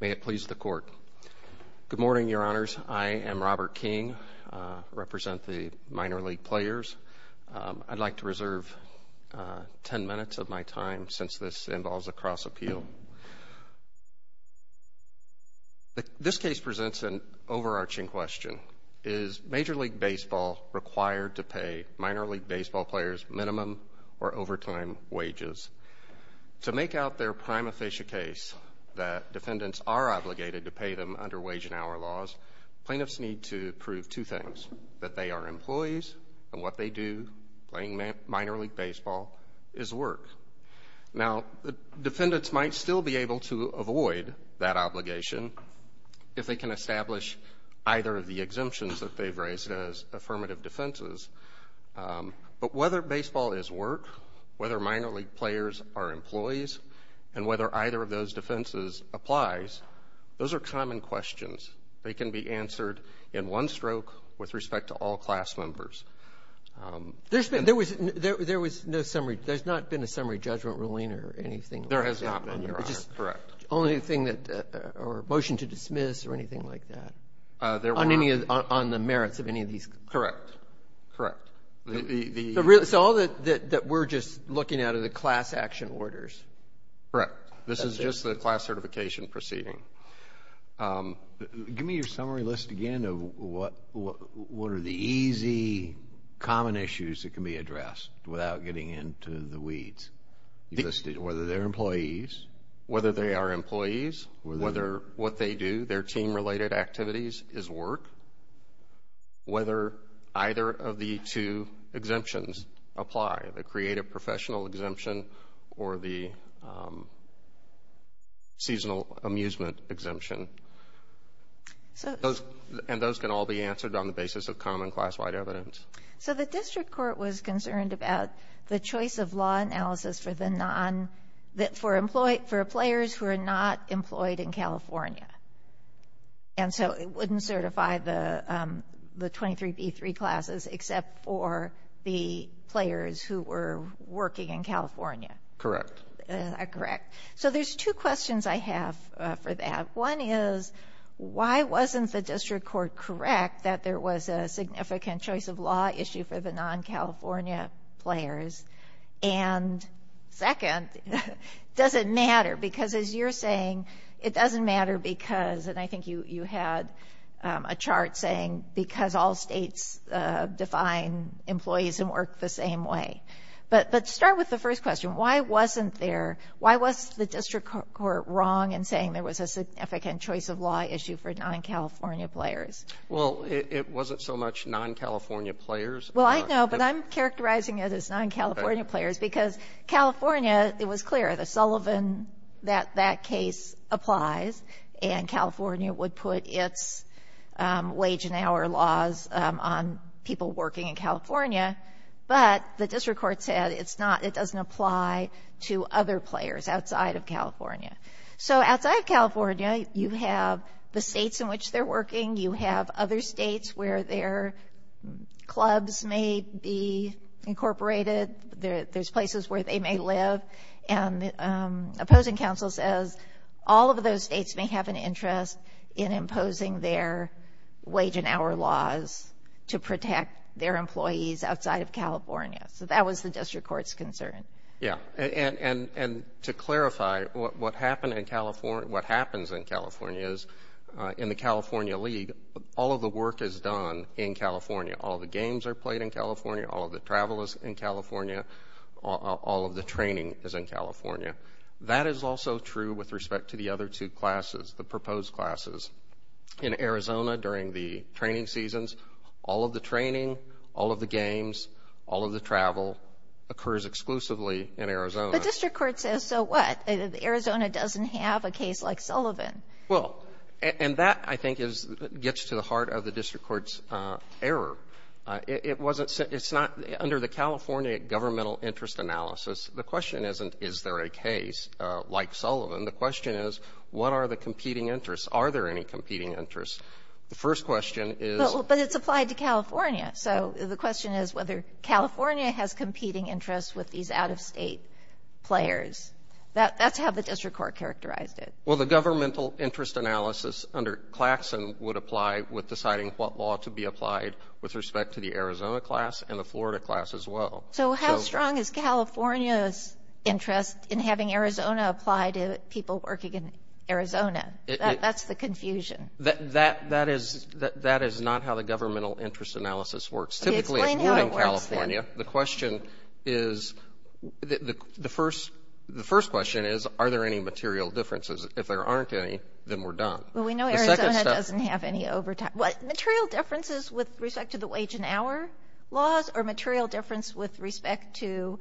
May it please the Court. Good morning, Your Honors. I am Robert King. I represent the minor league players. I'd like to reserve 10 minutes of my time since this involves a cross-appeal. This case presents an overarching question. Is Major League Baseball required to pay minor league baseball players minimum or defendants are obligated to pay them under wage and hour laws, plaintiffs need to prove two things, that they are employees and what they do playing minor league baseball is work. Now, the defendants might still be able to avoid that obligation if they can establish either of the exemptions that they've raised as affirmative defenses. But whether baseball is work, whether minor league players are employees, and whether either of these exemptions are effective, it's a matter for the court to decide. So, if the defense applies, those are common questions. They can be answered in one stroke with respect to all class members. There's been, there was no summary, there's not been a summary judgment ruling or anything? There has not been, Your Honor, correct. Only thing that, or motion to dismiss or anything like that? Uh, there was not. On the merits of any of these. Correct, correct. So, all that we're just looking at are the class action orders. Correct. This is just the class certification proceeding. Um, give me your summary list again of what, what are the easy, common issues that can be addressed without getting into the weeds. Whether they're employees. Whether they are employees. Whether, what they do, their team related activities is work. Whether either of the two exemptions apply, the creative professional exemption or the, um, seasonal amusement exemption. So. Those, and those can all be answered on the basis of common class-wide evidence. So, the district court was concerned about the choice of law analysis for the non, for employees, for players who are not employed in California. And so, it wouldn't certify the, um, the 23B3 classes except for the players who were working in California. Correct. Uh, correct. So, there's two questions I have, uh, for that. One is, why wasn't the district court correct that there was a significant choice of law issue for the non-California players? And, second, does it matter? Because, as you're saying, it doesn't matter because, and I think you, you had, um, a chart saying because all states, uh, define employees and work the same way. But, but start with the first question. Why wasn't there, why was the district court wrong in saying there was a significant choice of law issue for non-California players? Well, it, it wasn't so much non-California players. Well, I know, but I'm characterizing it as non-California players because California, it was clear. The Sullivan, that, that case applies, and California would put its, um, wage and hour laws, um, on people working in California. But, the district court said it's not, it doesn't apply to other players outside of California. So, outside of California, you have the states in which they're working. You have other states where their clubs may be incorporated. There, there's places where they may live. And, um, opposing counsel says all of those states may have an interest in imposing their wage and hour laws to protect their employees outside of California. So, that was the district court's concern. Yeah, and, and, and to clarify, what, what happened in California, what happens in California is, uh, in the California league, all of the work is done in California. All of the games are played in California. All of the travel is in California. All, all, all of the training is in California. That is also true with respect to the other two classes, the proposed classes. In Arizona, during the training seasons, all of the training, all of the games, all of the travel occurs exclusively in Arizona. But, district court says, so what? Arizona doesn't have a case like Sullivan. Well, and, and that, I think, is, gets to the heart of the district court's, uh, error. Uh, it, it wasn't, it's not, under the California governmental interest analysis, the question isn't, is there a case, uh, like Sullivan? The question is, what are the competing interests? Are there any competing interests? The first question is. But, but it's applied to California. So, the question is whether California has competing interests with these out-of-state players. That, that's how the district court characterized it. Well, the governmental interest analysis under Claxon would apply with deciding what law to be applied with respect to the Arizona class and the Florida class as well. So, how strong is California's interest in having Arizona apply to people working in Arizona? That, that's the confusion. That, that, that is, that, that is not how the governmental interest analysis works. Typically, if you're in California, the question is, the, the, the first, the first question is, are there any material differences? If there aren't any, then we're done. Well, we know Arizona doesn't have any overtime. Material differences with respect to the wage and hour laws or material difference with respect to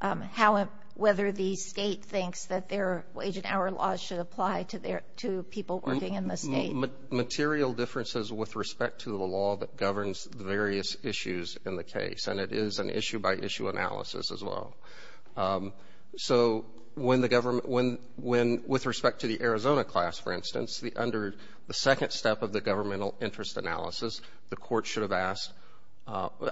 how, whether the state thinks that their wage and hour laws should apply to their, to people working in the state? Material differences with respect to the law that governs the various issues in the case. And it is an issue by issue analysis as well. So, when the government, when, when, with respect to the Arizona class, for instance, under the second step of the governmental interest analysis, the court should have asked,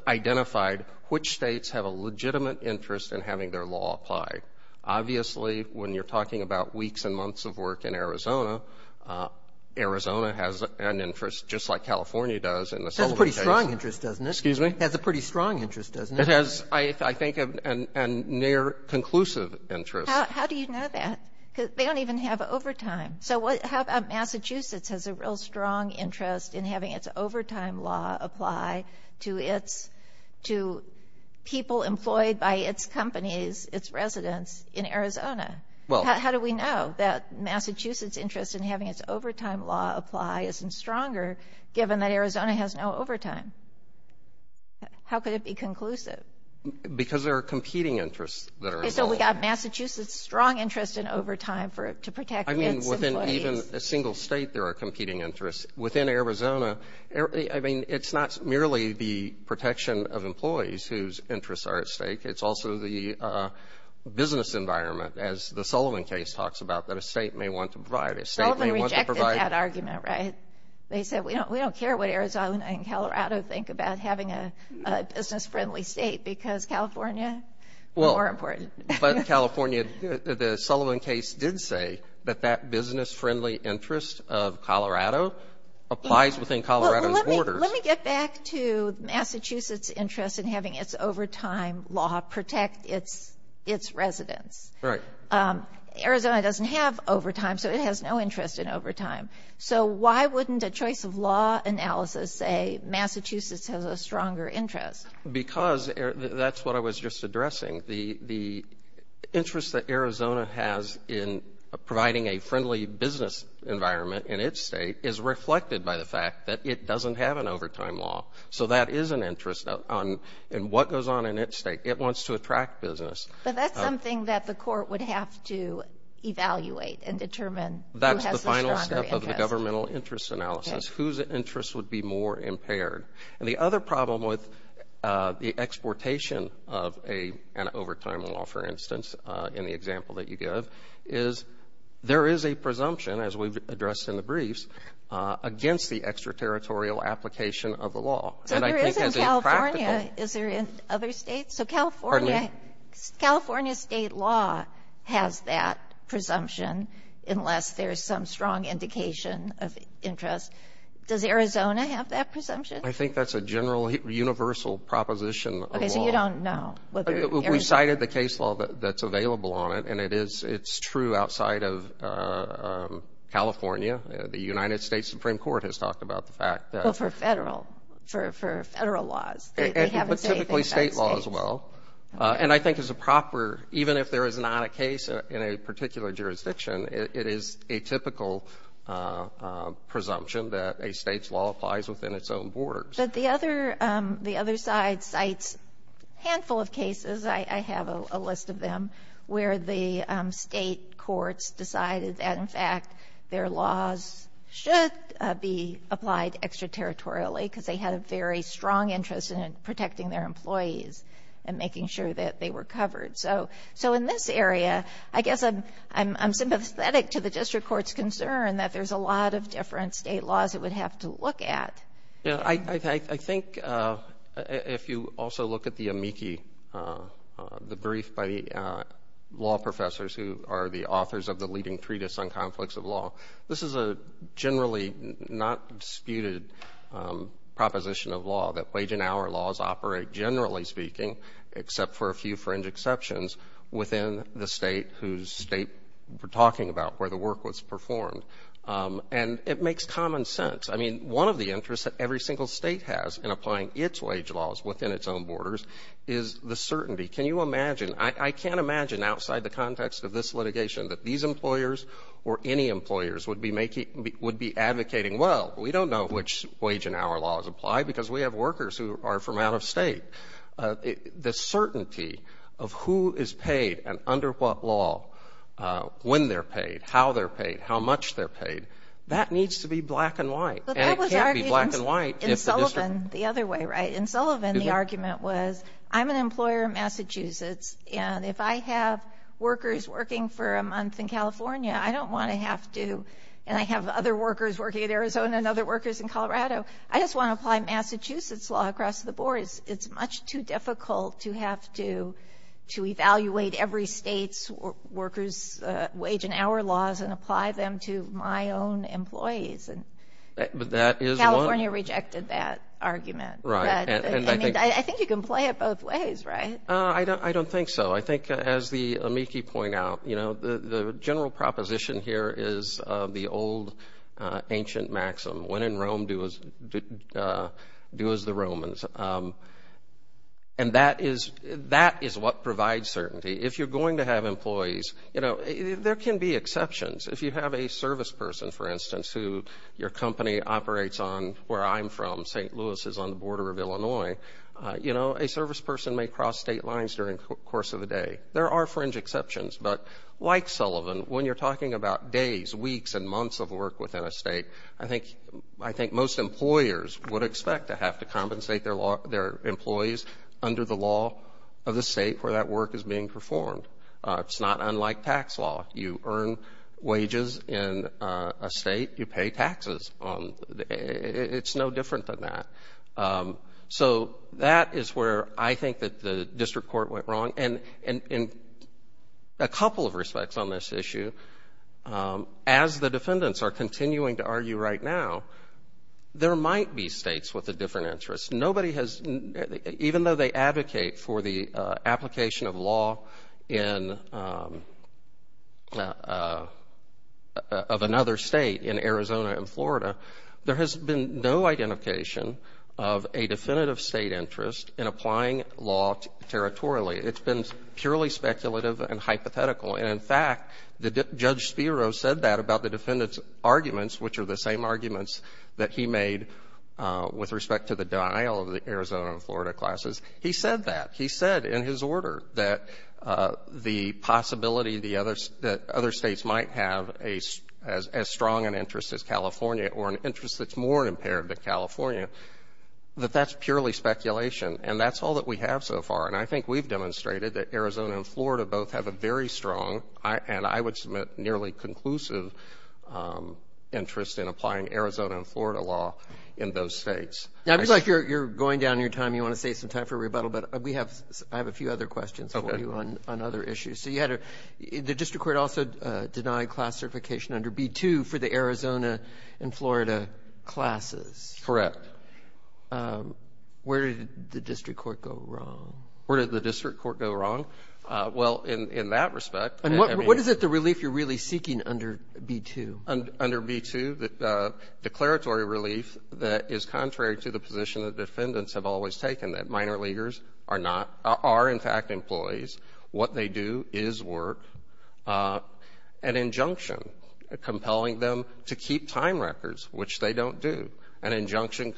identified, which states have a legitimate interest in having their law applied? Obviously, when you're talking about weeks and months of work in Arizona, Arizona has an interest just like California does in the settlement case. It has a pretty strong interest, doesn't it? Excuse me? It has a pretty strong interest, doesn't it? It has, I think, a near conclusive interest. How do you know that? Because they don't even have overtime. So, what, how about Massachusetts has a real strong interest in having its overtime law apply to its, to people employed by its companies, its residents in Arizona. Well. How do we know that Massachusetts' interest in having its overtime law apply isn't stronger, given that Arizona has no overtime? How could it be conclusive? Because there are competing interests that are involved. So, we've got Massachusetts' strong interest in overtime for, to protect its. I mean, within even a single state there are competing interests. Within Arizona, I mean, it's not merely the protection of employees whose interests are at stake. It's also the business environment, as the Sullivan case talks about, that a state may want to provide. A state may want to provide. Sullivan rejected that argument, right? They said, we don't care what Arizona and Colorado think about having a business-friendly state, because California, we're more important. But California, the Sullivan case did say that that business-friendly interest of Colorado applies within Colorado's borders. Let me get back to Massachusetts' interest in having its overtime law protect its residents. Right. Arizona doesn't have overtime, so it has no interest in overtime. So, why wouldn't a choice of law analysis say Massachusetts has a stronger interest? Because that's what I was just addressing. The interest that Arizona has in providing a friendly business environment in its state is reflected by the fact that it doesn't have an overtime law. So, that is an interest in what goes on in its state. It wants to attract business. But that's something that the court would have to evaluate and determine who has the stronger interest. That's the final step of the governmental interest analysis, whose interests would be more impaired. And the other problem with the exportation of an overtime law, for instance, in the example that you give, is there is a presumption, as we've addressed in the briefs, against the extraterritorial application of the law. So, there is in California. Is there in other states? So, California's state law has that presumption, unless there's some strong indication of interest. Does Arizona have that presumption? I think that's a general universal proposition of law. Okay, so you don't know. We cited the case law that's available on it, and it's true outside of California. The United States Supreme Court has talked about the fact that. But for federal laws. But typically state law as well. And I think as a proper, even if there is not a case in a particular jurisdiction, it is a typical presumption that a state's law applies within its own borders. But the other side cites a handful of cases, I have a list of them, where the state courts decided that, in fact, their laws should be applied extraterritorially because they had a very strong interest in protecting their employees and making sure that they were covered. So, in this area, I guess I'm sympathetic to the district court's concern that there's a lot of different state laws it would have to look at. Yeah, I think if you also look at the amici, the brief by the law professors who are the authors of the leading treatise on conflicts of law, this is a generally not disputed proposition of law, that wage and hour laws operate, generally speaking, except for a few fringe exceptions, within the state whose state we're talking about where the work was performed. And it makes common sense. I mean, one of the interests that every single state has in applying its wage laws within its own borders is the certainty. Can you imagine, I can't imagine outside the context of this litigation that these employers or any employers would be advocating, well, we don't know which wage and hour laws apply because we have workers who are from out of state. The certainty of who is paid and under what law, when they're paid, how they're paid, how much they're paid, that needs to be black and white. And it can't be black and white if the district... But that was argued in Sullivan the other way, right? In Sullivan, the argument was, I'm an employer in Massachusetts, and if I have workers working for a month in California, I don't want to have to, and I have other workers working in Arizona and other workers in Colorado, I just want to apply Massachusetts law across the board. It's much too difficult to have to evaluate every state's workers' wage and hour laws and apply them to my own employees. But that is one... California rejected that argument. Right. I think you can play it both ways, right? I don't think so. I think, as the amici point out, you know, the general proposition here is the old ancient maxim, when in Rome, do as the Romans. And that is what provides certainty. If you're going to have employees, you know, there can be exceptions. If you have a service person, for instance, who your company operates on where I'm from, St. Louis is on the border of Illinois, you know, a service person may cross state lines during the course of the day. There are fringe exceptions. But like Sullivan, when you're talking about days, weeks, and months of work within a state, I think most employers would expect to have to compensate their employees under the law of the state where that work is being performed. It's not unlike tax law. You earn wages in a state, you pay taxes. It's no different than that. So that is where I think that the district court went wrong. And in a couple of respects on this issue, as the defendants are continuing to argue right now, there might be states with a different interest. Even though they advocate for the application of law of another state in Arizona and Florida, there has been no identification of a definitive state interest in applying law territorially. It's been purely speculative and hypothetical. And, in fact, Judge Spiro said that about the defendants' arguments, which are the same arguments that he made with respect to the denial of the Arizona and Florida classes. He said that. But that's purely speculation. And that's all that we have so far. And I think we've demonstrated that Arizona and Florida both have a very strong, and I would submit, nearly conclusive interest in applying Arizona and Florida law in those states. Roberts. Roberts. Now, I feel like you're going down your time. You want to save some time for rebuttal. But we have a few other questions for you on other issues. So you had a — the district court also denied class certification under B-2 for the Arizona and Florida classes. Correct. Where did the district court go wrong? Where did the district court go wrong? Well, in that respect, I mean — And what is it, the relief, you're really seeking under B-2? Under B-2, the declaratory relief that is contrary to the position that defendants have always taken, that minor leaguers are not — are, in fact, employees. What they do is work an injunction compelling them to keep time records, which they don't do, an injunction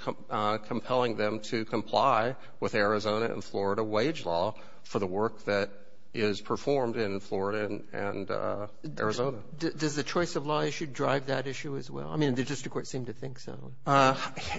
compelling them to comply with Arizona and Florida wage law for the work that is performed in Florida and Arizona. Does the choice of law issue drive that issue as well? I mean, the district court seemed to think so.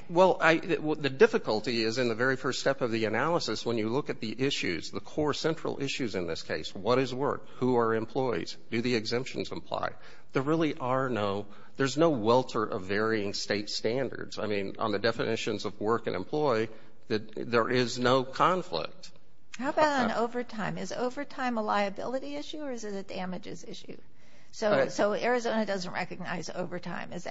Well, the difficulty is in the very first step of the analysis when you look at the issues, the core central issues in this case. What is work? Who are employees? Do the exemptions apply? There really are no — there's no welter of varying state standards. I mean, on the definitions of work and employee, there is no conflict. How about on overtime? Is overtime a liability issue or is it a damages issue? So Arizona doesn't recognize overtime. Is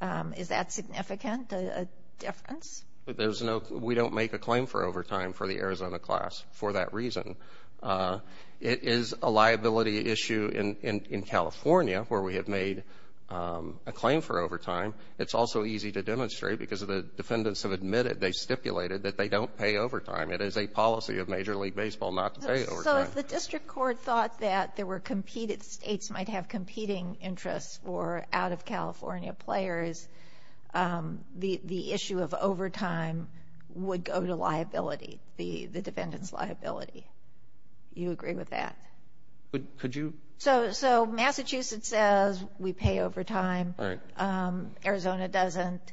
that significant, a difference? There's no — we don't make a claim for overtime for the Arizona class for that reason. It is a liability issue in California where we have made a claim for overtime. It's also easy to demonstrate because the defendants have admitted, they stipulated, that they don't pay overtime. It is a policy of Major League Baseball not to pay overtime. So if the district court thought that there were competed — states might have competing interests for out-of-California players, the issue of overtime would go to liability, the defendant's liability. Do you agree with that? Could you — So Massachusetts says we pay overtime. All right. Arizona doesn't.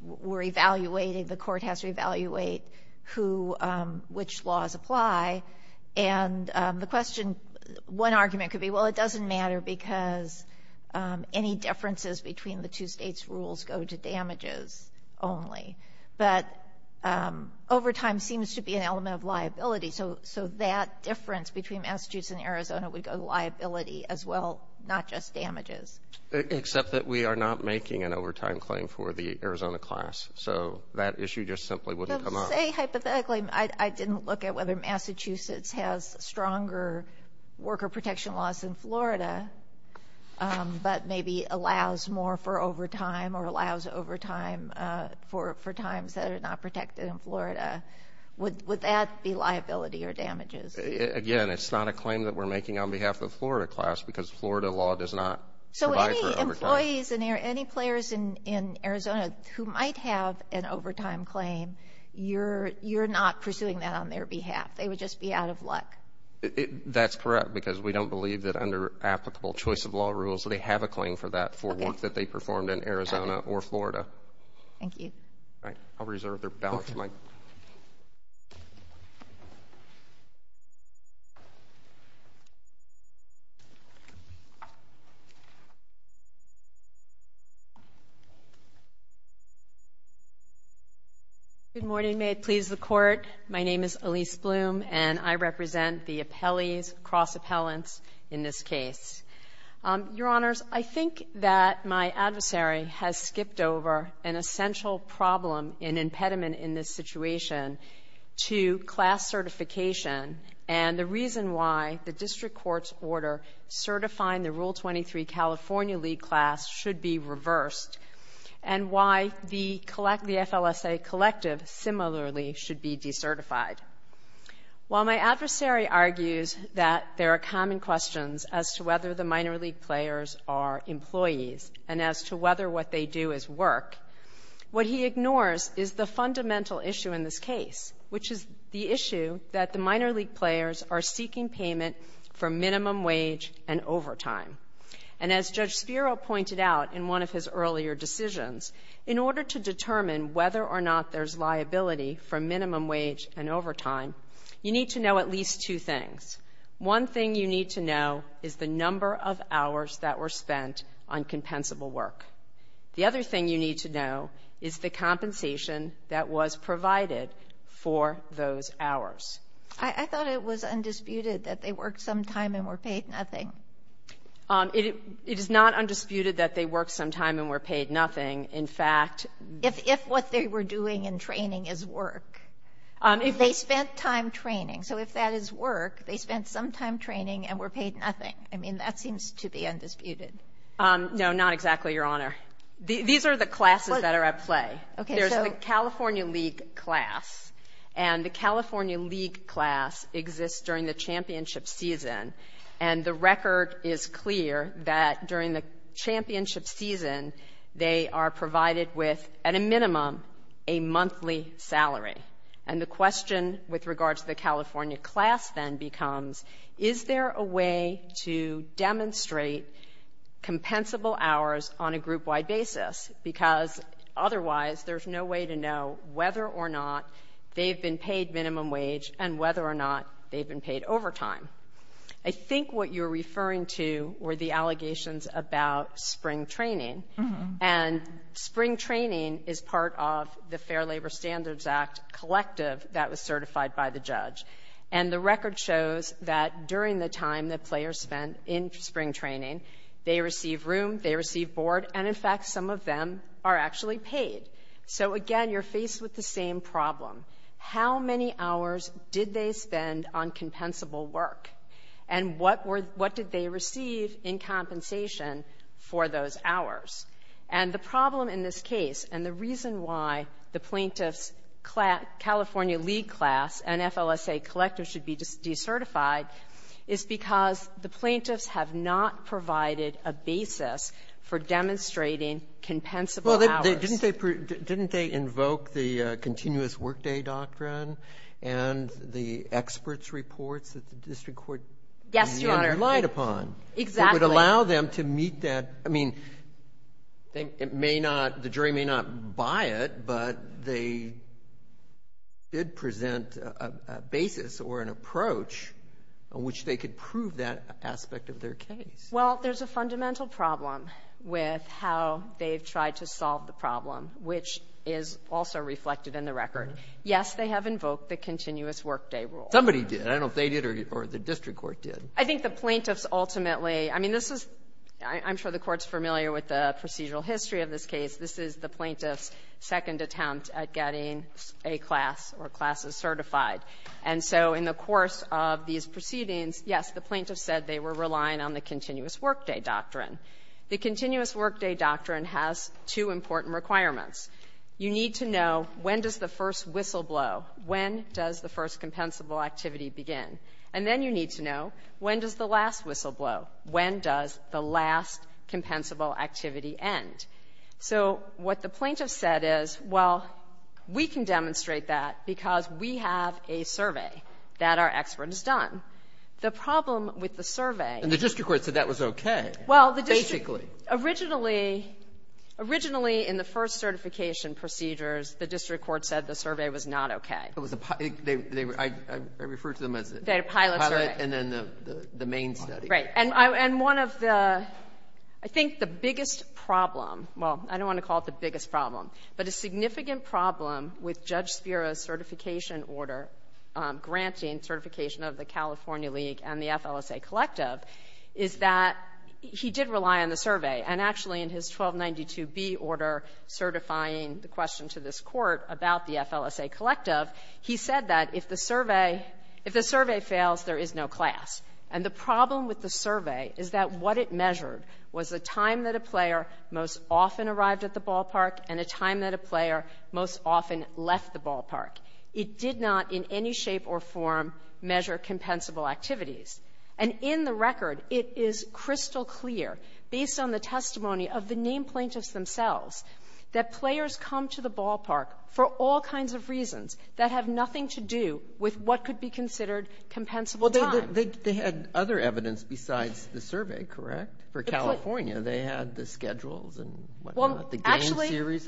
We're evaluating — the court has to evaluate who — which laws apply. And the question — one argument could be, well, it doesn't matter because any differences between the two states' rules go to damages only. But overtime seems to be an element of liability, so that difference between Massachusetts and Arizona would go to liability as well, not just damages. Except that we are not making an overtime claim for the Arizona class. So that issue just simply wouldn't come up. Say, hypothetically, I didn't look at whether Massachusetts has stronger worker protection laws than Florida, but maybe allows more for overtime or allows overtime for times that are not protected in Florida. Would that be liability or damages? Again, it's not a claim that we're making on behalf of the Florida class because Florida law does not — So any employees and any players in Arizona who might have an overtime claim, you're not pursuing that on their behalf. They would just be out of luck. That's correct because we don't believe that under applicable choice of law rules, they have a claim for that for work that they performed in Arizona or Florida. Thank you. All right. I'll reserve the balance, Mike. Good morning. May it please the Court. My name is Elise Bloom, and I represent the appellees, cross-appellants in this case. Your Honors, I think that my adversary has skipped over an essential problem and impediment in this situation to class certification and the reason why the district court's order certifying the Rule 23 California League class should be reversed and why the FLSA collective similarly should be decertified. While my adversary argues that there are common questions as to whether the minor league players are employees and as to whether what they do is work, what he ignores is the fundamental issue in this case, which is the issue that the minor league players are seeking payment for minimum wage and overtime. And as Judge Spiro pointed out in one of his earlier decisions, in order to determine whether or not there's liability for minimum wage and overtime, you need to know at least two things. One thing you need to know is the number of hours that were spent on compensable work. The other thing you need to know is the compensation that was provided for those hours. I thought it was undisputed that they worked some time and were paid nothing. It is not undisputed that they worked some time and were paid nothing. In fact — If what they were doing in training is work. If they spent time training. So if that is work, they spent some time training and were paid nothing. I mean, that seems to be undisputed. No, not exactly, Your Honor. These are the classes that are at play. There's the California League class, and the California League class exists during the championship season. And the record is clear that during the championship season, they are provided with, at a minimum, a monthly salary. And the question with regard to the California class then becomes, is there a way to demonstrate compensable hours on a group-wide basis? Because otherwise, there's no way to know whether or not they've been paid minimum wage and whether or not they've been paid overtime. I think what you're referring to were the allegations about spring training. And spring training is part of the Fair Labor Standards Act collective that was certified by the judge. And the record shows that during the time that players spent in spring training, they receive room, they receive board, and, in fact, some of them are actually paid. So, again, you're faced with the same problem. How many hours did they spend on compensable work? And what did they receive in compensation for those hours? And the problem in this case and the reason why the plaintiffs' California League class and FLSA collective should be decertified is because the plaintiffs have not provided a basis for demonstrating compensable hours. Didn't they invoke the continuous workday doctrine and the experts' reports that the district court relied upon? Yes, Your Honor. Exactly. It would allow them to meet that. I mean, it may not, the jury may not buy it, but they did present a basis or an approach on which they could prove that aspect of their case. Well, there's a fundamental problem with how they've tried to solve the problem, which is also reflected in the record. Yes, they have invoked the continuous workday rule. Somebody did. I don't know if they did or the district court did. I think the plaintiffs ultimately, I mean, this is, I'm sure the Court's familiar with the procedural history of this case. This is the plaintiffs' second attempt at getting a class or classes certified. And so in the course of these proceedings, yes, the plaintiffs said they were relying on the continuous workday doctrine. The continuous workday doctrine has two important requirements. You need to know when does the first whistle blow, when does the first compensable activity begin. And then you need to know when does the last whistle blow, when does the last compensable activity end. So what the plaintiffs said is, well, we can demonstrate that because we have a survey that our expert has done. The problem with the survey — And the district court said that was okay, basically. Well, the district — originally, originally in the first certification procedures, the district court said the survey was not okay. It was a pilot. I refer to them as a pilot. A pilot survey. And then the main study. Right. And one of the — I think the biggest problem — well, I don't want to call it the biggest problem, but a significant problem with Judge Spiro's certification order granting certification of the California League and the FLSA Collective is that he did rely on the survey. And actually, in his 1292B order certifying the question to this Court about the FLSA Collective, he said that if the survey — if the survey fails, there is no class. And the problem with the survey is that what it measured was the time that a player most often arrived at the ballpark and a time that a player most often left the ballpark. It did not in any shape or form measure compensable activities. And in the record, it is crystal clear, based on the testimony of the named plaintiffs themselves, that players come to the ballpark for all kinds of reasons that have other evidence besides the survey, correct? For California, they had the schedules and what not. The game series.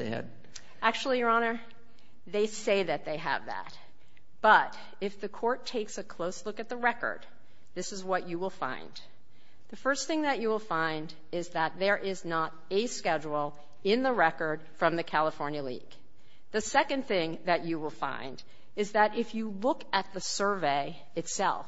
Actually, Your Honor, they say that they have that. But if the Court takes a close look at the record, this is what you will find. The first thing that you will find is that there is not a schedule in the record from the California League. The second thing that you will find is that if you look at the survey itself,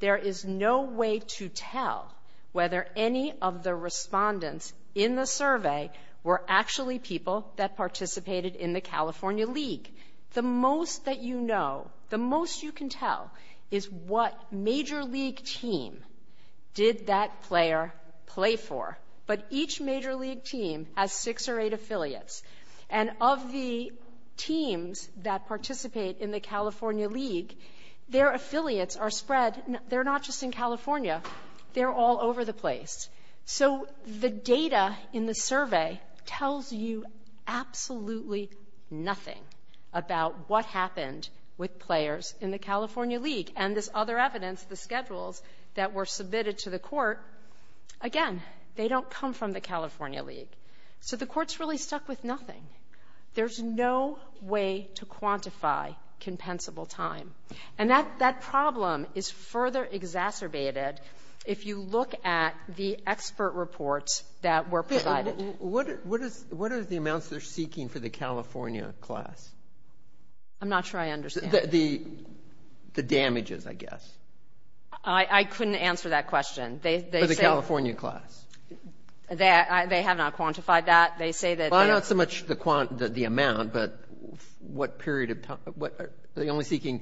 there is no way to tell whether any of the respondents in the survey were actually people that participated in the California League. The most that you know, the most you can tell, is what major league team did that player play for. But each major league team has six or eight affiliates. And of the teams that participate in the California League, their affiliates are spread. They're not just in California. They're all over the place. So the data in the survey tells you absolutely nothing about what happened with players in the California League. And this other evidence, the schedules that were submitted to the Court, again, they don't come from the California League. So the Court's really stuck with nothing. There's no way to quantify compensable time. And that problem is further exacerbated if you look at the expert reports that were provided. What are the amounts they're seeking for the California class? I'm not sure I understand. The damages, I guess. I couldn't answer that question. For the California class. They have not quantified that. Well, not so much the amount, but what period of time. Are they only seeking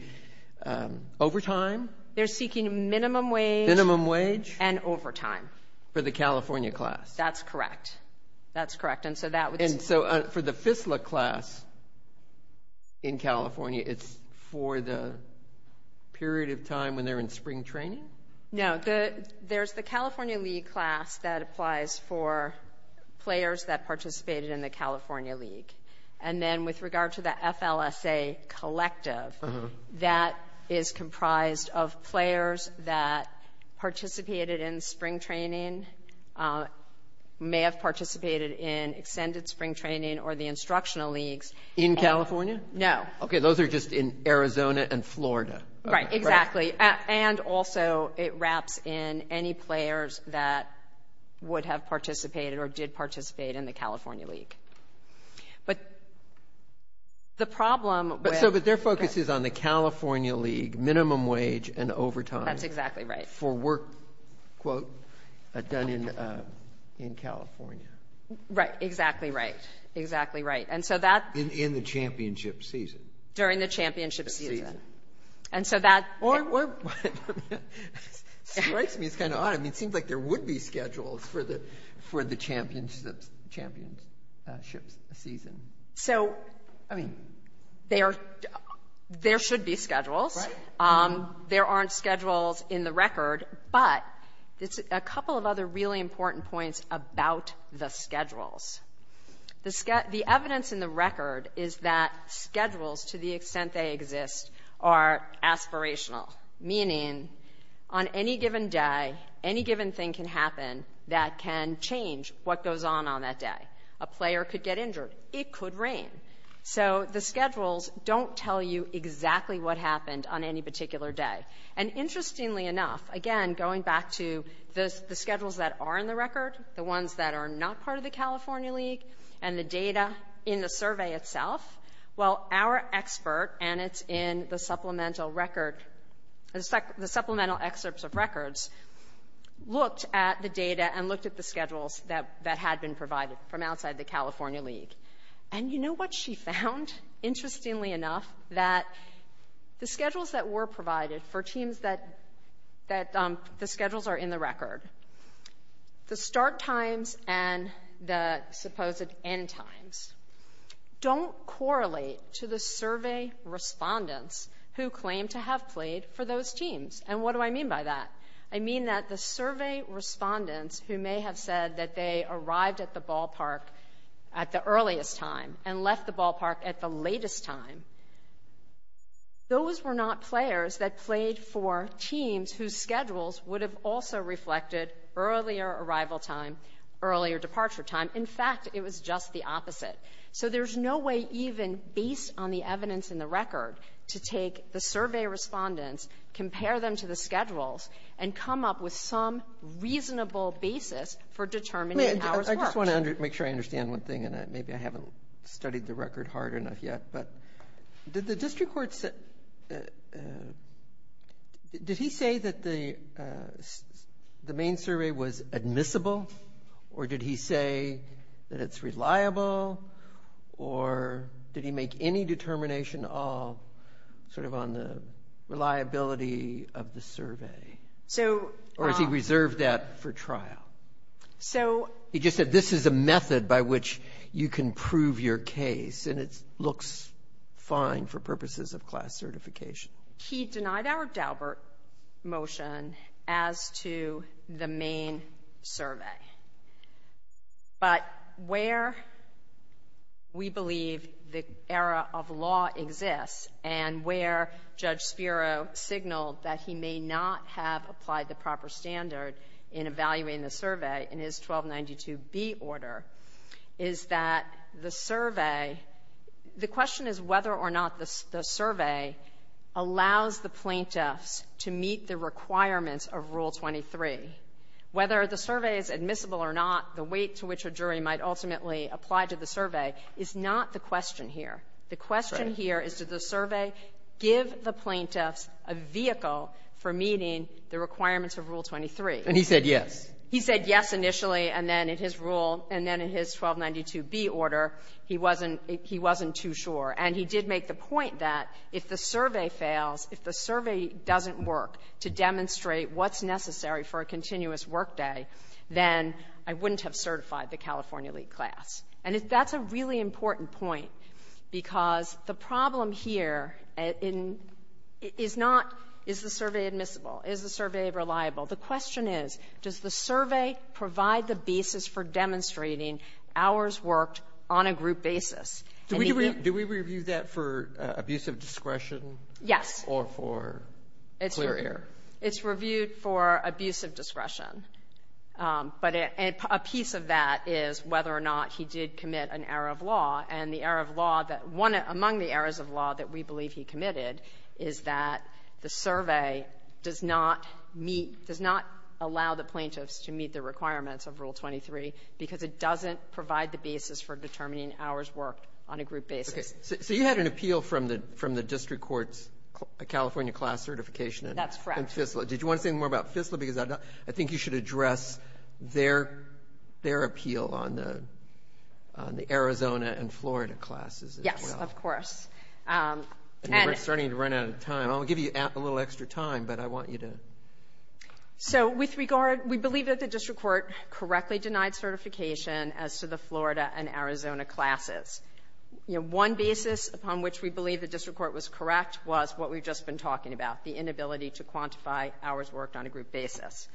overtime? They're seeking minimum wage. Minimum wage. And overtime. For the California class. That's correct. That's correct. And so for the FISLA class in California, it's for the period of time when they're in spring training? No. There's the California League class that applies for players that participated in the California League. And then with regard to the FLSA collective, that is comprised of players that participated in spring training, may have participated in extended spring training, or the instructional leagues. In California? No. Okay, those are just in Arizona and Florida. Right, exactly. And also it wraps in any players that would have participated or did participate in the California League. But the problem with the California League, minimum wage and overtime. That's exactly right. For work, quote, done in California. Right, exactly right. Exactly right. In the championship season. During the championship season. That strikes me as kind of odd. It seems like there would be schedules for the championship season. So there should be schedules. Right. There aren't schedules in the record. But there's a couple of other really important points about the schedules. The evidence in the record is that schedules, to the extent they exist, are aspirational, meaning on any given day, any given thing can happen that can change what goes on on that day. A player could get injured. It could rain. So the schedules don't tell you exactly what happened on any particular day. And interestingly enough, again, going back to the schedules that are in the record, the ones that are not part of the California League, and the data in the survey itself, well, our expert, and it's in the supplemental record, the supplemental excerpts of records, looked at the data and looked at the schedules that had been provided from outside the California League. And you know what she found, interestingly enough, that the schedules that were provided for teams that the schedules are in the record, the start times and the supposed end times, don't correlate to the survey respondents who claim to have played for those teams. And what do I mean by that? I mean that the survey respondents who may have said that they arrived at the ballpark at the earliest time and left the ballpark at the latest time, those were not players that played for teams whose schedules would have also reflected earlier arrival time, earlier departure time. In fact, it was just the opposite. So there's no way even, based on the evidence in the record, to take the survey respondents, compare them to the schedules, and come up with some reasonable basis for determining how it worked. I just want to make sure I understand one thing, and maybe I haven't studied the record hard enough yet, but did the district court say that the main survey was admissible? Or did he say that it's reliable? Or did he make any determination on the reliability of the survey? Or has he reserved that for trial? He just said this is a method by which you can prove your case, and it looks fine for purposes of class certification. He denied our Daubert motion as to the main survey. But where we believe the error of law exists and where Judge Spiro signaled that he may not have applied the proper standard in evaluating the survey in his 1292B order is that the survey — the question is whether or not the survey allows the plaintiffs to meet the requirements of Rule 23. Whether the survey is admissible or not, the weight to which a jury might ultimately apply to the survey is not the question here. The question here is, did the survey give the plaintiffs a vehicle for meeting the requirements of Rule 23? And he said yes. He said yes initially, and then in his Rule — and then in his 1292B order, he wasn't — he wasn't too sure. And he did make the point that if the survey fails, if the survey doesn't work to demonstrate what's necessary for a continuous workday, then I wouldn't have certified the California League class. And that's a really important point, because the problem here in — is not, is the survey reliable? The question is, does the survey provide the basis for demonstrating hours worked on a group basis? And he did. Do we review that for abuse of discretion? Yes. Or for clear air? It's reviewed for abuse of discretion. But a piece of that is whether or not he did commit an error of law. And the error of law that — one among the errors of law that we believe he committed is that the survey does not meet — does not allow the plaintiffs to meet the requirements of Rule 23, because it doesn't provide the basis for determining hours worked on a group basis. Okay. So you had an appeal from the — from the district court's California class certification in — That's correct. — in FISLA. Did you want to say more about FISLA? Because I think you should address their — their appeal on the Arizona and Florida classes as well. Yes, of course. And we're starting to run out of time. I'll give you a little extra time, but I want you to — So with regard — we believe that the district court correctly denied certification as to the Florida and Arizona classes. You know, one basis upon which we believe the district court was correct was what we've just been talking about, the inability to quantify hours worked on a group basis.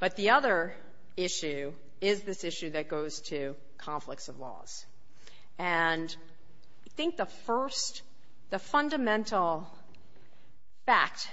But the other issue is this issue that goes to conflicts of laws. And I think the first — the fundamental fact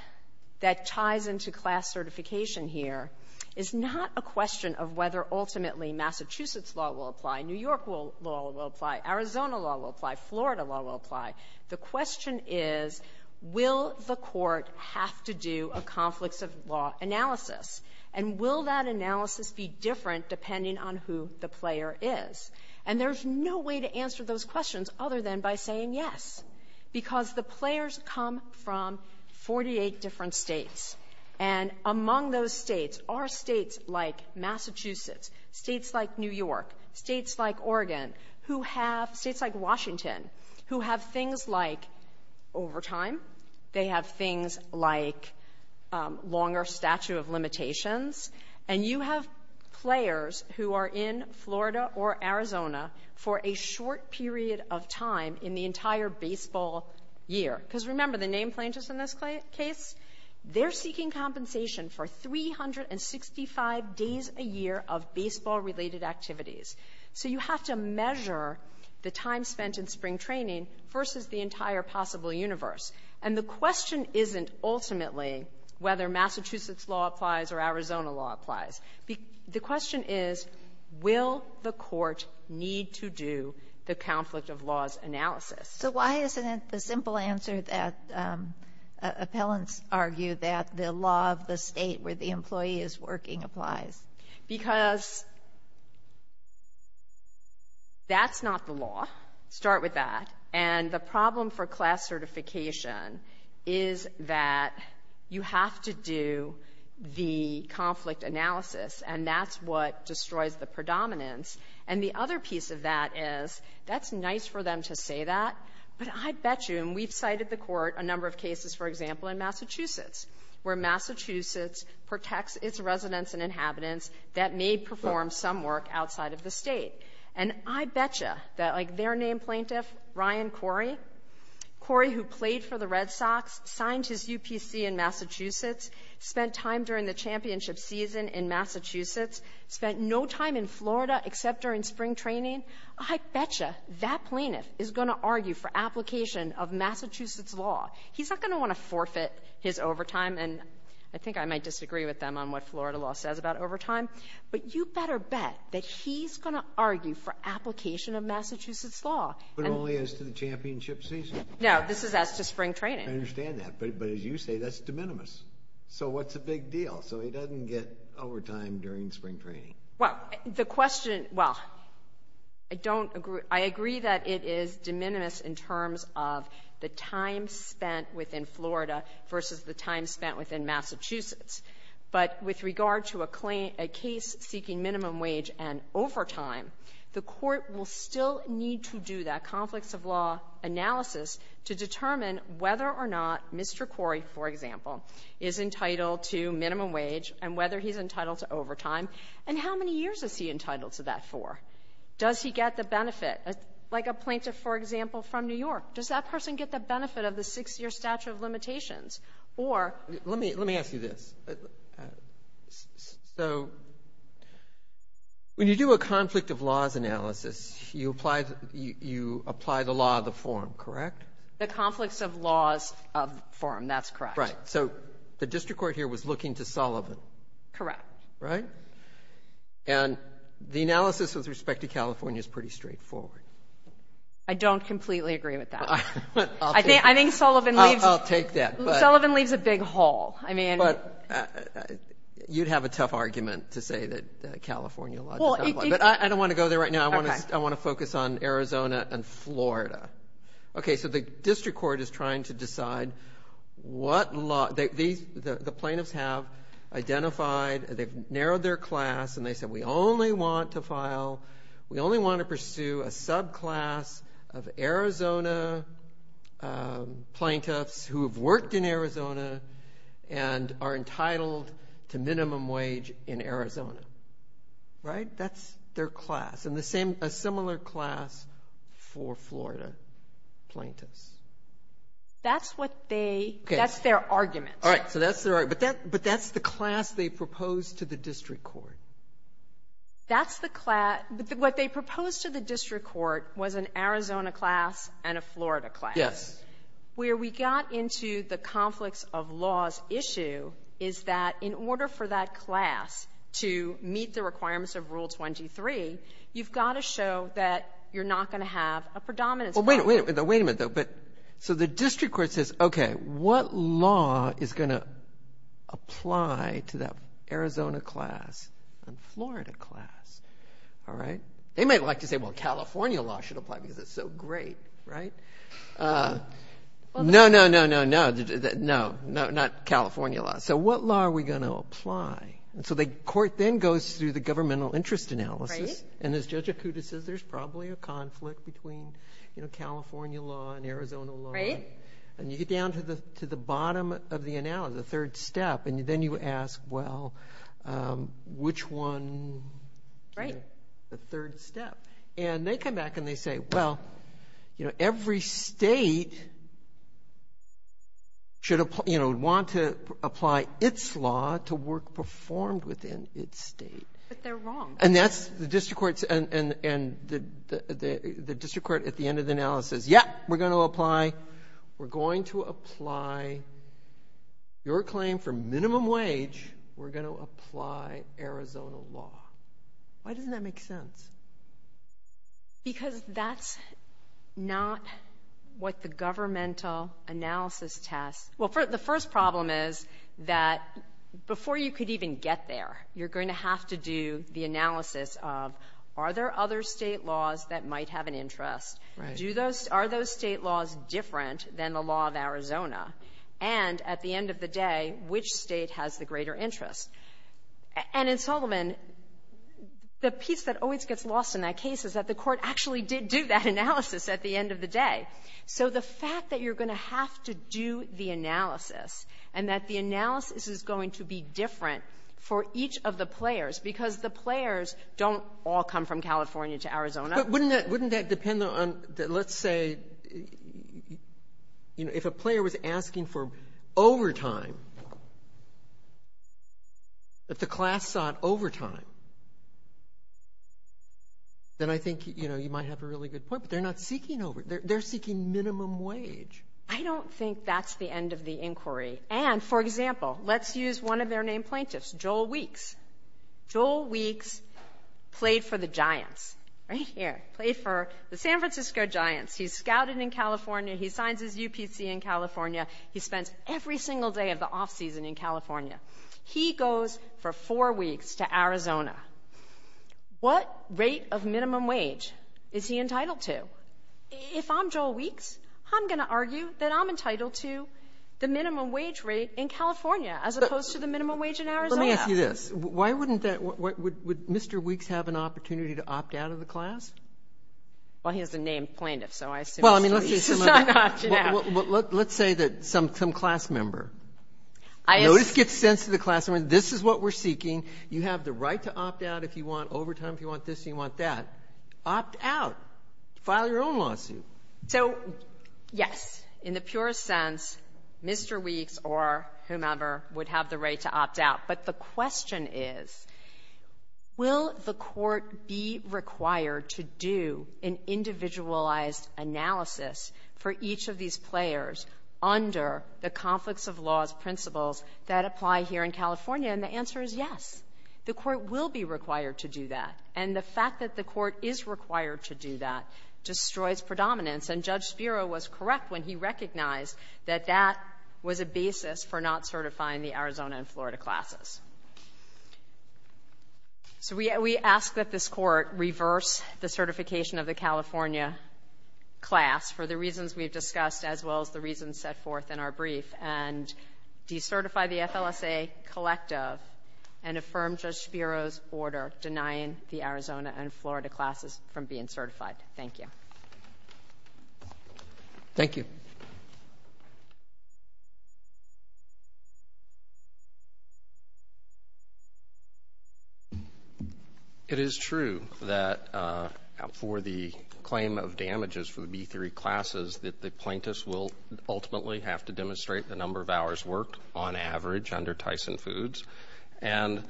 that ties into class certification here is not a question of whether ultimately Massachusetts law will apply, New York law will apply, Arizona law will apply, Florida law will apply. The question is, will the court have to do a conflicts of law analysis? And will that analysis be different depending on who the player is? And there's no way to answer those questions other than by saying yes, because the players come from 48 different states. And among those states are states like Massachusetts, states like New York, states like Oregon, who have — states like Washington, who have things like overtime. They have things like longer statute of limitations. And you have players who are in Florida or Arizona for a short period of time in the entire baseball year. Because remember, the name plaintiffs in this case, they're seeking compensation for 365 days a year of baseball-related activities. So you have to measure the time spent in spring training versus the entire possible universe. And the question isn't ultimately whether Massachusetts law applies or Arizona law applies. The question is, will the court need to do the conflict of laws analysis? So why isn't it the simple answer that appellants argue, that the law of the state where the employee is working applies? Because that's not the law. Start with that. And the problem for class certification is that you have to do the conflicts of public analysis, and that's what destroys the predominance. And the other piece of that is, that's nice for them to say that, but I bet you, and we've cited the Court a number of cases, for example, in Massachusetts, where Massachusetts protects its residents and inhabitants that may perform some work outside of the State. And I bet you that, like, their name plaintiff, Ryan Corey, Corey, who played for the Red Sox, signed his UPC in Massachusetts, spent time during the championship season in Massachusetts, spent no time in Florida except during spring training, I bet you that plaintiff is going to argue for application of Massachusetts law. He's not going to want to forfeit his overtime, and I think I might disagree with them on what Florida law says about overtime, but you better bet that he's going to argue for application of Massachusetts law. But only as to the championship season? No, this is as to spring training. I understand that, but as you say, that's de minimis. So what's the big deal? So he doesn't get overtime during spring training? Well, the question, well, I don't agree. I agree that it is de minimis in terms of the time spent within Florida versus the time spent within Massachusetts. But Florida will still need to do that conflicts-of-law analysis to determine whether or not Mr. Corey, for example, is entitled to minimum wage and whether he's entitled to overtime, and how many years is he entitled to that for? Does he get the benefit, like a plaintiff, for example, from New York? Does that person get the benefit of the six-year statute of limitations? Let me ask you this. So when you do a conflict-of-laws analysis, you apply the law of the form, correct? The conflicts-of-laws form, that's correct. Right. So the district court here was looking to Sullivan. Correct. Right? And the analysis with respect to California is pretty straightforward. I don't completely agree with that. I think Sullivan leaves it. I'll take that. Sullivan leaves a big hole. I mean- But you'd have a tough argument to say that California- Well, it- But I don't want to go there right now. Okay. I want to focus on Arizona and Florida. Okay, so the district court is trying to decide what law- the plaintiffs have identified, they've narrowed their class, and they said, we only want to file-we only want to pursue a subclass of Arizona plaintiffs who have worked in Arizona and are entitled to minimum wage in Arizona. Right? That's their class. And the same-a similar class for Florida plaintiffs. That's what they- Okay. That's their argument. All right. So that's their-but that's the class they proposed to the district court. That's the class-what they proposed to the district court was an Arizona class and a Florida class. Yes. Where we got into the conflicts of laws issue is that in order for that class to meet the requirements of Rule 23, you've got to show that you're not going to have a predominance- Well, wait a minute. Wait a minute, though. But-so the district court says, okay, what law is going to apply to that Arizona class and Florida class? All right? They might like to say, well, California law should apply because it's so great. Right? No, no, no, no, no, no, no, not California law. So what law are we going to apply? And so the court then goes through the governmental interest analysis. Right. And as Judge Okuda says, there's probably a conflict between, you know, California law and Arizona law. Right. And you get down to the bottom of the analysis, the third step, and then you ask, well, which one- Right. The third step. And they come back and they say, well, you know, every state should apply, you know, would want to apply its law to work performed within its state. But they're wrong. And that's-the district court's-and the district court at the end of the analysis says, yep, we're going to apply-we're going to apply your claim for minimum wage. We're going to apply Arizona law. Why doesn't that make sense? Because that's not what the governmental analysis tests-well, the first problem is that before you could even get there, you're going to have to do the analysis of, are there other state laws that might have an interest? Right. Do those-are those state laws different than the law of Arizona? And at the end of the day, which state has the greater interest? And in Solomon, the piece that always gets lost in that case is that the court actually did do that analysis at the end of the day. So the fact that you're going to have to do the analysis and that the analysis is going to be different for each of the players, because the players don't all come from California to Arizona. But wouldn't that-wouldn't that depend on, let's say, you know, if a player was asking for overtime, if the class sought overtime, then I think, you know, you might have a really good point. But they're not seeking overtime. They're seeking minimum wage. I don't think that's the end of the inquiry. And, for example, let's use one of their named plaintiffs, Joel Weeks. Joel Weeks played for the Giants, right here. Played for the San Francisco Giants. He's scouted in California. He signs his UPC in California. He spends every single day of the off-season in California. He goes for four weeks to Arizona. What rate of minimum wage is he entitled to? If I'm Joel Weeks, I'm going to argue that I'm entitled to the minimum wage rate in California as opposed to the minimum wage in Arizona. Let me ask you this. Why wouldn't that-would Mr. Weeks have an opportunity to opt out of the class? Well, he has the name plaintiff, so I assume- Well, I mean, let's say that some class member. Notice gets sent to the class member, this is what we're seeking. You have the right to opt out if you want overtime, if you want this and you want that. Opt out. File your own lawsuit. So, yes. In the purest sense, Mr. Weeks or whomever would have the right to opt out. But the question is, will the court be required to do an individualized analysis for each of these players under the conflicts of laws principles that apply here in California? And the answer is yes. The court will be required to do that. And the fact that the court is required to do that destroys predominance. And Judge Spiro was correct when he recognized that that was a basis for not certifying the Arizona and Florida classes. So we ask that this court reverse the certification of the California class for the reasons we've discussed as well as the reasons set forth in our brief and decertify the FLSA collective and affirm Judge Spiro's order denying the Arizona and Florida classes from being certified. Thank you. Thank you. It is true that for the claim of damages for the B3 classes that the plaintiffs will ultimately have to demonstrate the number of hours worked on average under Tyson Foods. And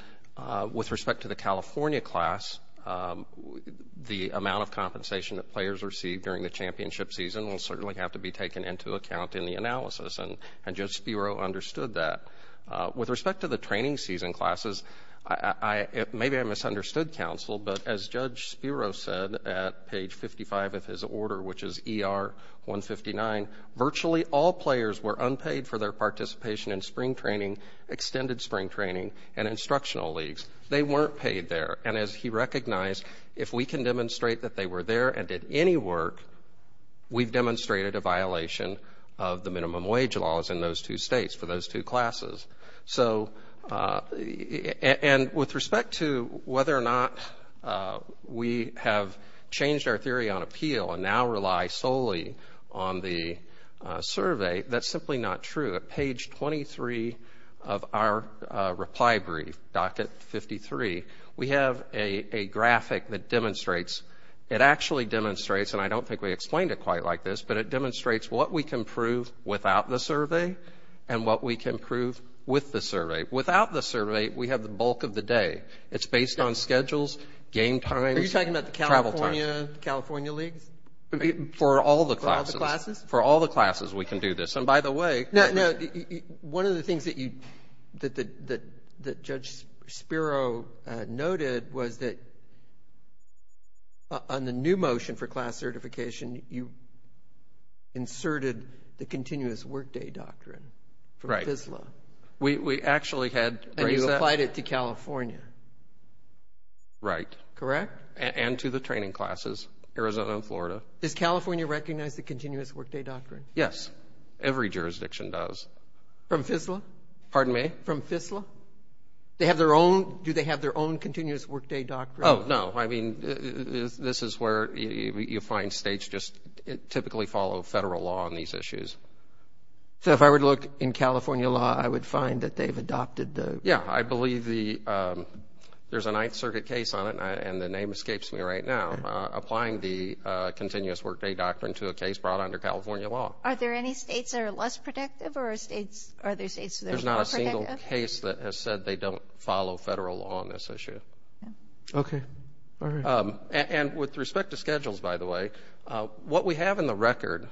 with respect to the California class, the amount of compensation that players receive during the championship season will certainly have to be taken into account in the analysis. And Judge Spiro understood that. With respect to the training season classes, maybe I misunderstood counsel, but as Judge Spiro said at page 55 of his order, which is ER 159, virtually all players were unpaid for their participation in spring training, extended spring training, and instructional leagues. They weren't paid there. And as he recognized, if we can demonstrate that they were there and did any work, we've demonstrated a violation of the minimum wage laws in those two states for those two classes. And with respect to whether or not we have changed our theory on appeal and now rely solely on the survey, that's simply not true. At page 23 of our reply brief, docket 53, we have a graphic that demonstrates, it actually demonstrates, and I don't think we explained it quite like this, but it demonstrates what we can prove without the survey and what we can prove with the survey. Without the survey, we have the bulk of the day. It's based on schedules, game times, travel times. Are you talking about the California leagues? For all the classes. For all the classes? For all the classes, we can do this. By the way, one of the things that Judge Spiro noted was that on the new motion for class certification, you inserted the continuous workday doctrine for FSLA. Right. We actually had raised that. And you applied it to California. Right. Correct? And to the training classes, Arizona and Florida. Does California recognize the continuous workday doctrine? Yes. Every jurisdiction does. From FSLA? Pardon me? From FSLA? They have their own? Do they have their own continuous workday doctrine? Oh, no. I mean, this is where you find states just typically follow federal law on these issues. So if I were to look in California law, I would find that they've adopted the? Yeah. I believe there's a Ninth Circuit case on it, and the name escapes me right now, applying the continuous workday doctrine to a case brought under California law. Are there any states that are less protective, or are there states that are more protective? There's not a single case that has said they don't follow federal law on this issue. Okay. All right. And with respect to schedules, by the way, what we have in the record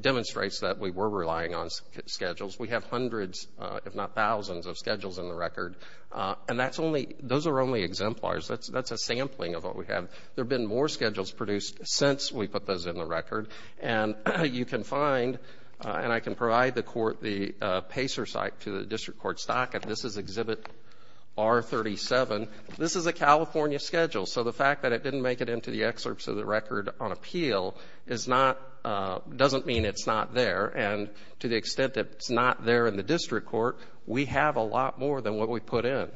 demonstrates that we were relying on schedules. We have hundreds, if not thousands, of schedules in the record, and those are only exemplars. That's a sampling of what we have. There have been more schedules produced since we put those in the record, and you can find, and I can provide the court the PACER site to the district court stock, and this is Exhibit R37. This is a California schedule. So the fact that it didn't make it into the excerpts of the record on appeal doesn't mean it's not there, and to the extent that it's not there in the district court, we have a lot more than what we put in.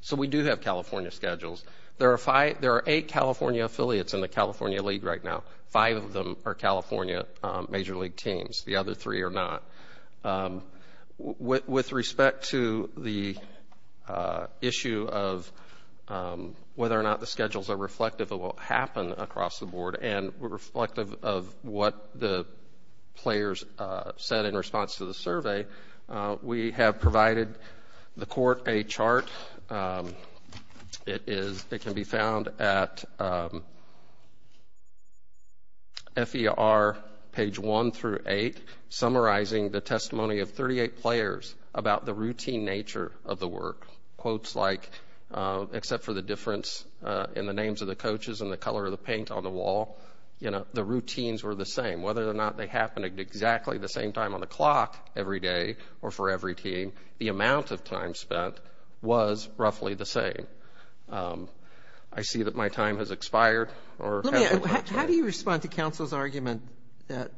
So we do have California schedules. There are eight California affiliates in the California league right now. Five of them are California major league teams. The other three are not. With respect to the issue of whether or not the schedules are reflective of what happened across the board and reflective of what the players said in response to the survey, we have provided the court a chart. It can be found at FER page 1 through 8, summarizing the testimony of 38 players about the routine nature of the work. Quotes like, except for the difference in the names of the coaches and the color of the paint on the wall, you know, the routines were the same. Whether or not they happened at exactly the same time on the clock every day or for every team, the amount of time spent was roughly the same. I see that my time has expired. How do you respond to counsel's argument that,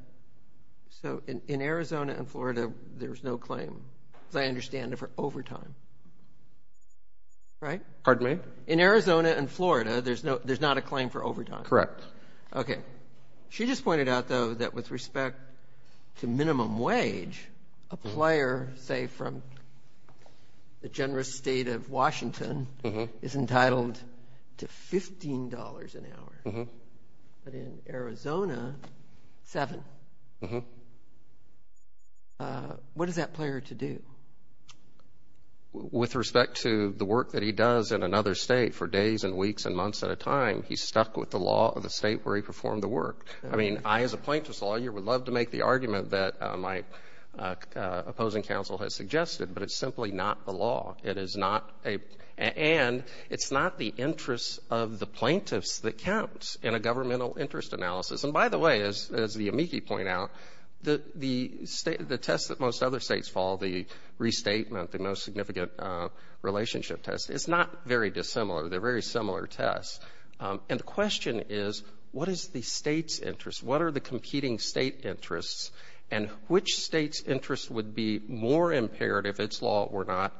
so in Arizona and Florida, there's no claim, as I understand it, for overtime, right? Pardon me? In Arizona and Florida, there's not a claim for overtime. Correct. Okay. She just pointed out, though, that with respect to minimum wage, a player, say, from the generous state of Washington is entitled to $15 an hour. But in Arizona, $7. What is that player to do? With respect to the work that he does in another state for days and weeks and months at a time, he's stuck with the law of the state where he performed the work. I mean, I, as a plaintiff's lawyer, would love to make the argument that my opposing counsel has suggested, but it's simply not the law. It is not a – and it's not the interest of the plaintiffs that counts in a governmental interest analysis. And, by the way, as the amici point out, the test that most other states follow, the restatement, the no significant relationship test, is not very dissimilar. They're very similar tests. And the question is, what is the state's interest? What are the competing state interests? And which state's interest would be more impaired if its law were not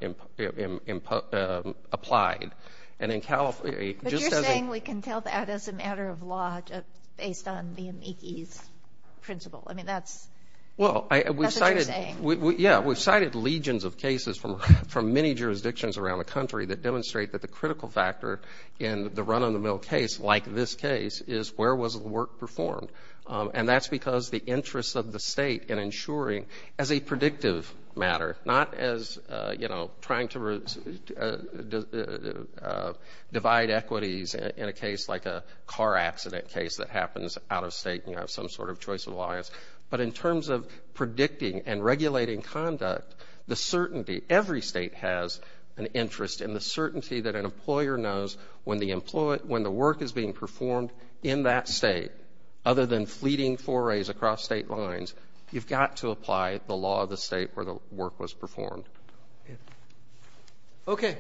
applied? And in California, just as a – But you're saying we can tell that as a matter of law based on the amici's principle. I mean, that's – that's what you're saying. Well, we've cited – yeah, we've cited legions of cases from many jurisdictions around the country that demonstrate that the critical factor in the run-on-the-mill case, like this case, is where was the work performed. And that's because the interest of the state in ensuring, as a predictive matter, not as, you know, trying to divide equities in a case like a car accident case that happens out of state, you know, some sort of choice of alliance, but in terms of predicting and regulating conduct, the certainty – every state has an interest in the certainty that an employer knows when the work is being performed in that state. Other than fleeting forays across state lines, you've got to apply the law of the state where the work was performed. Okay.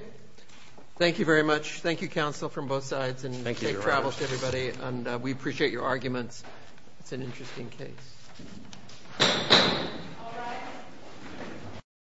Thank you very much. Thank you, counsel, from both sides. Thank you, Your Honor. And safe travels to everybody. And we appreciate your arguments. It's an interesting case. All rise.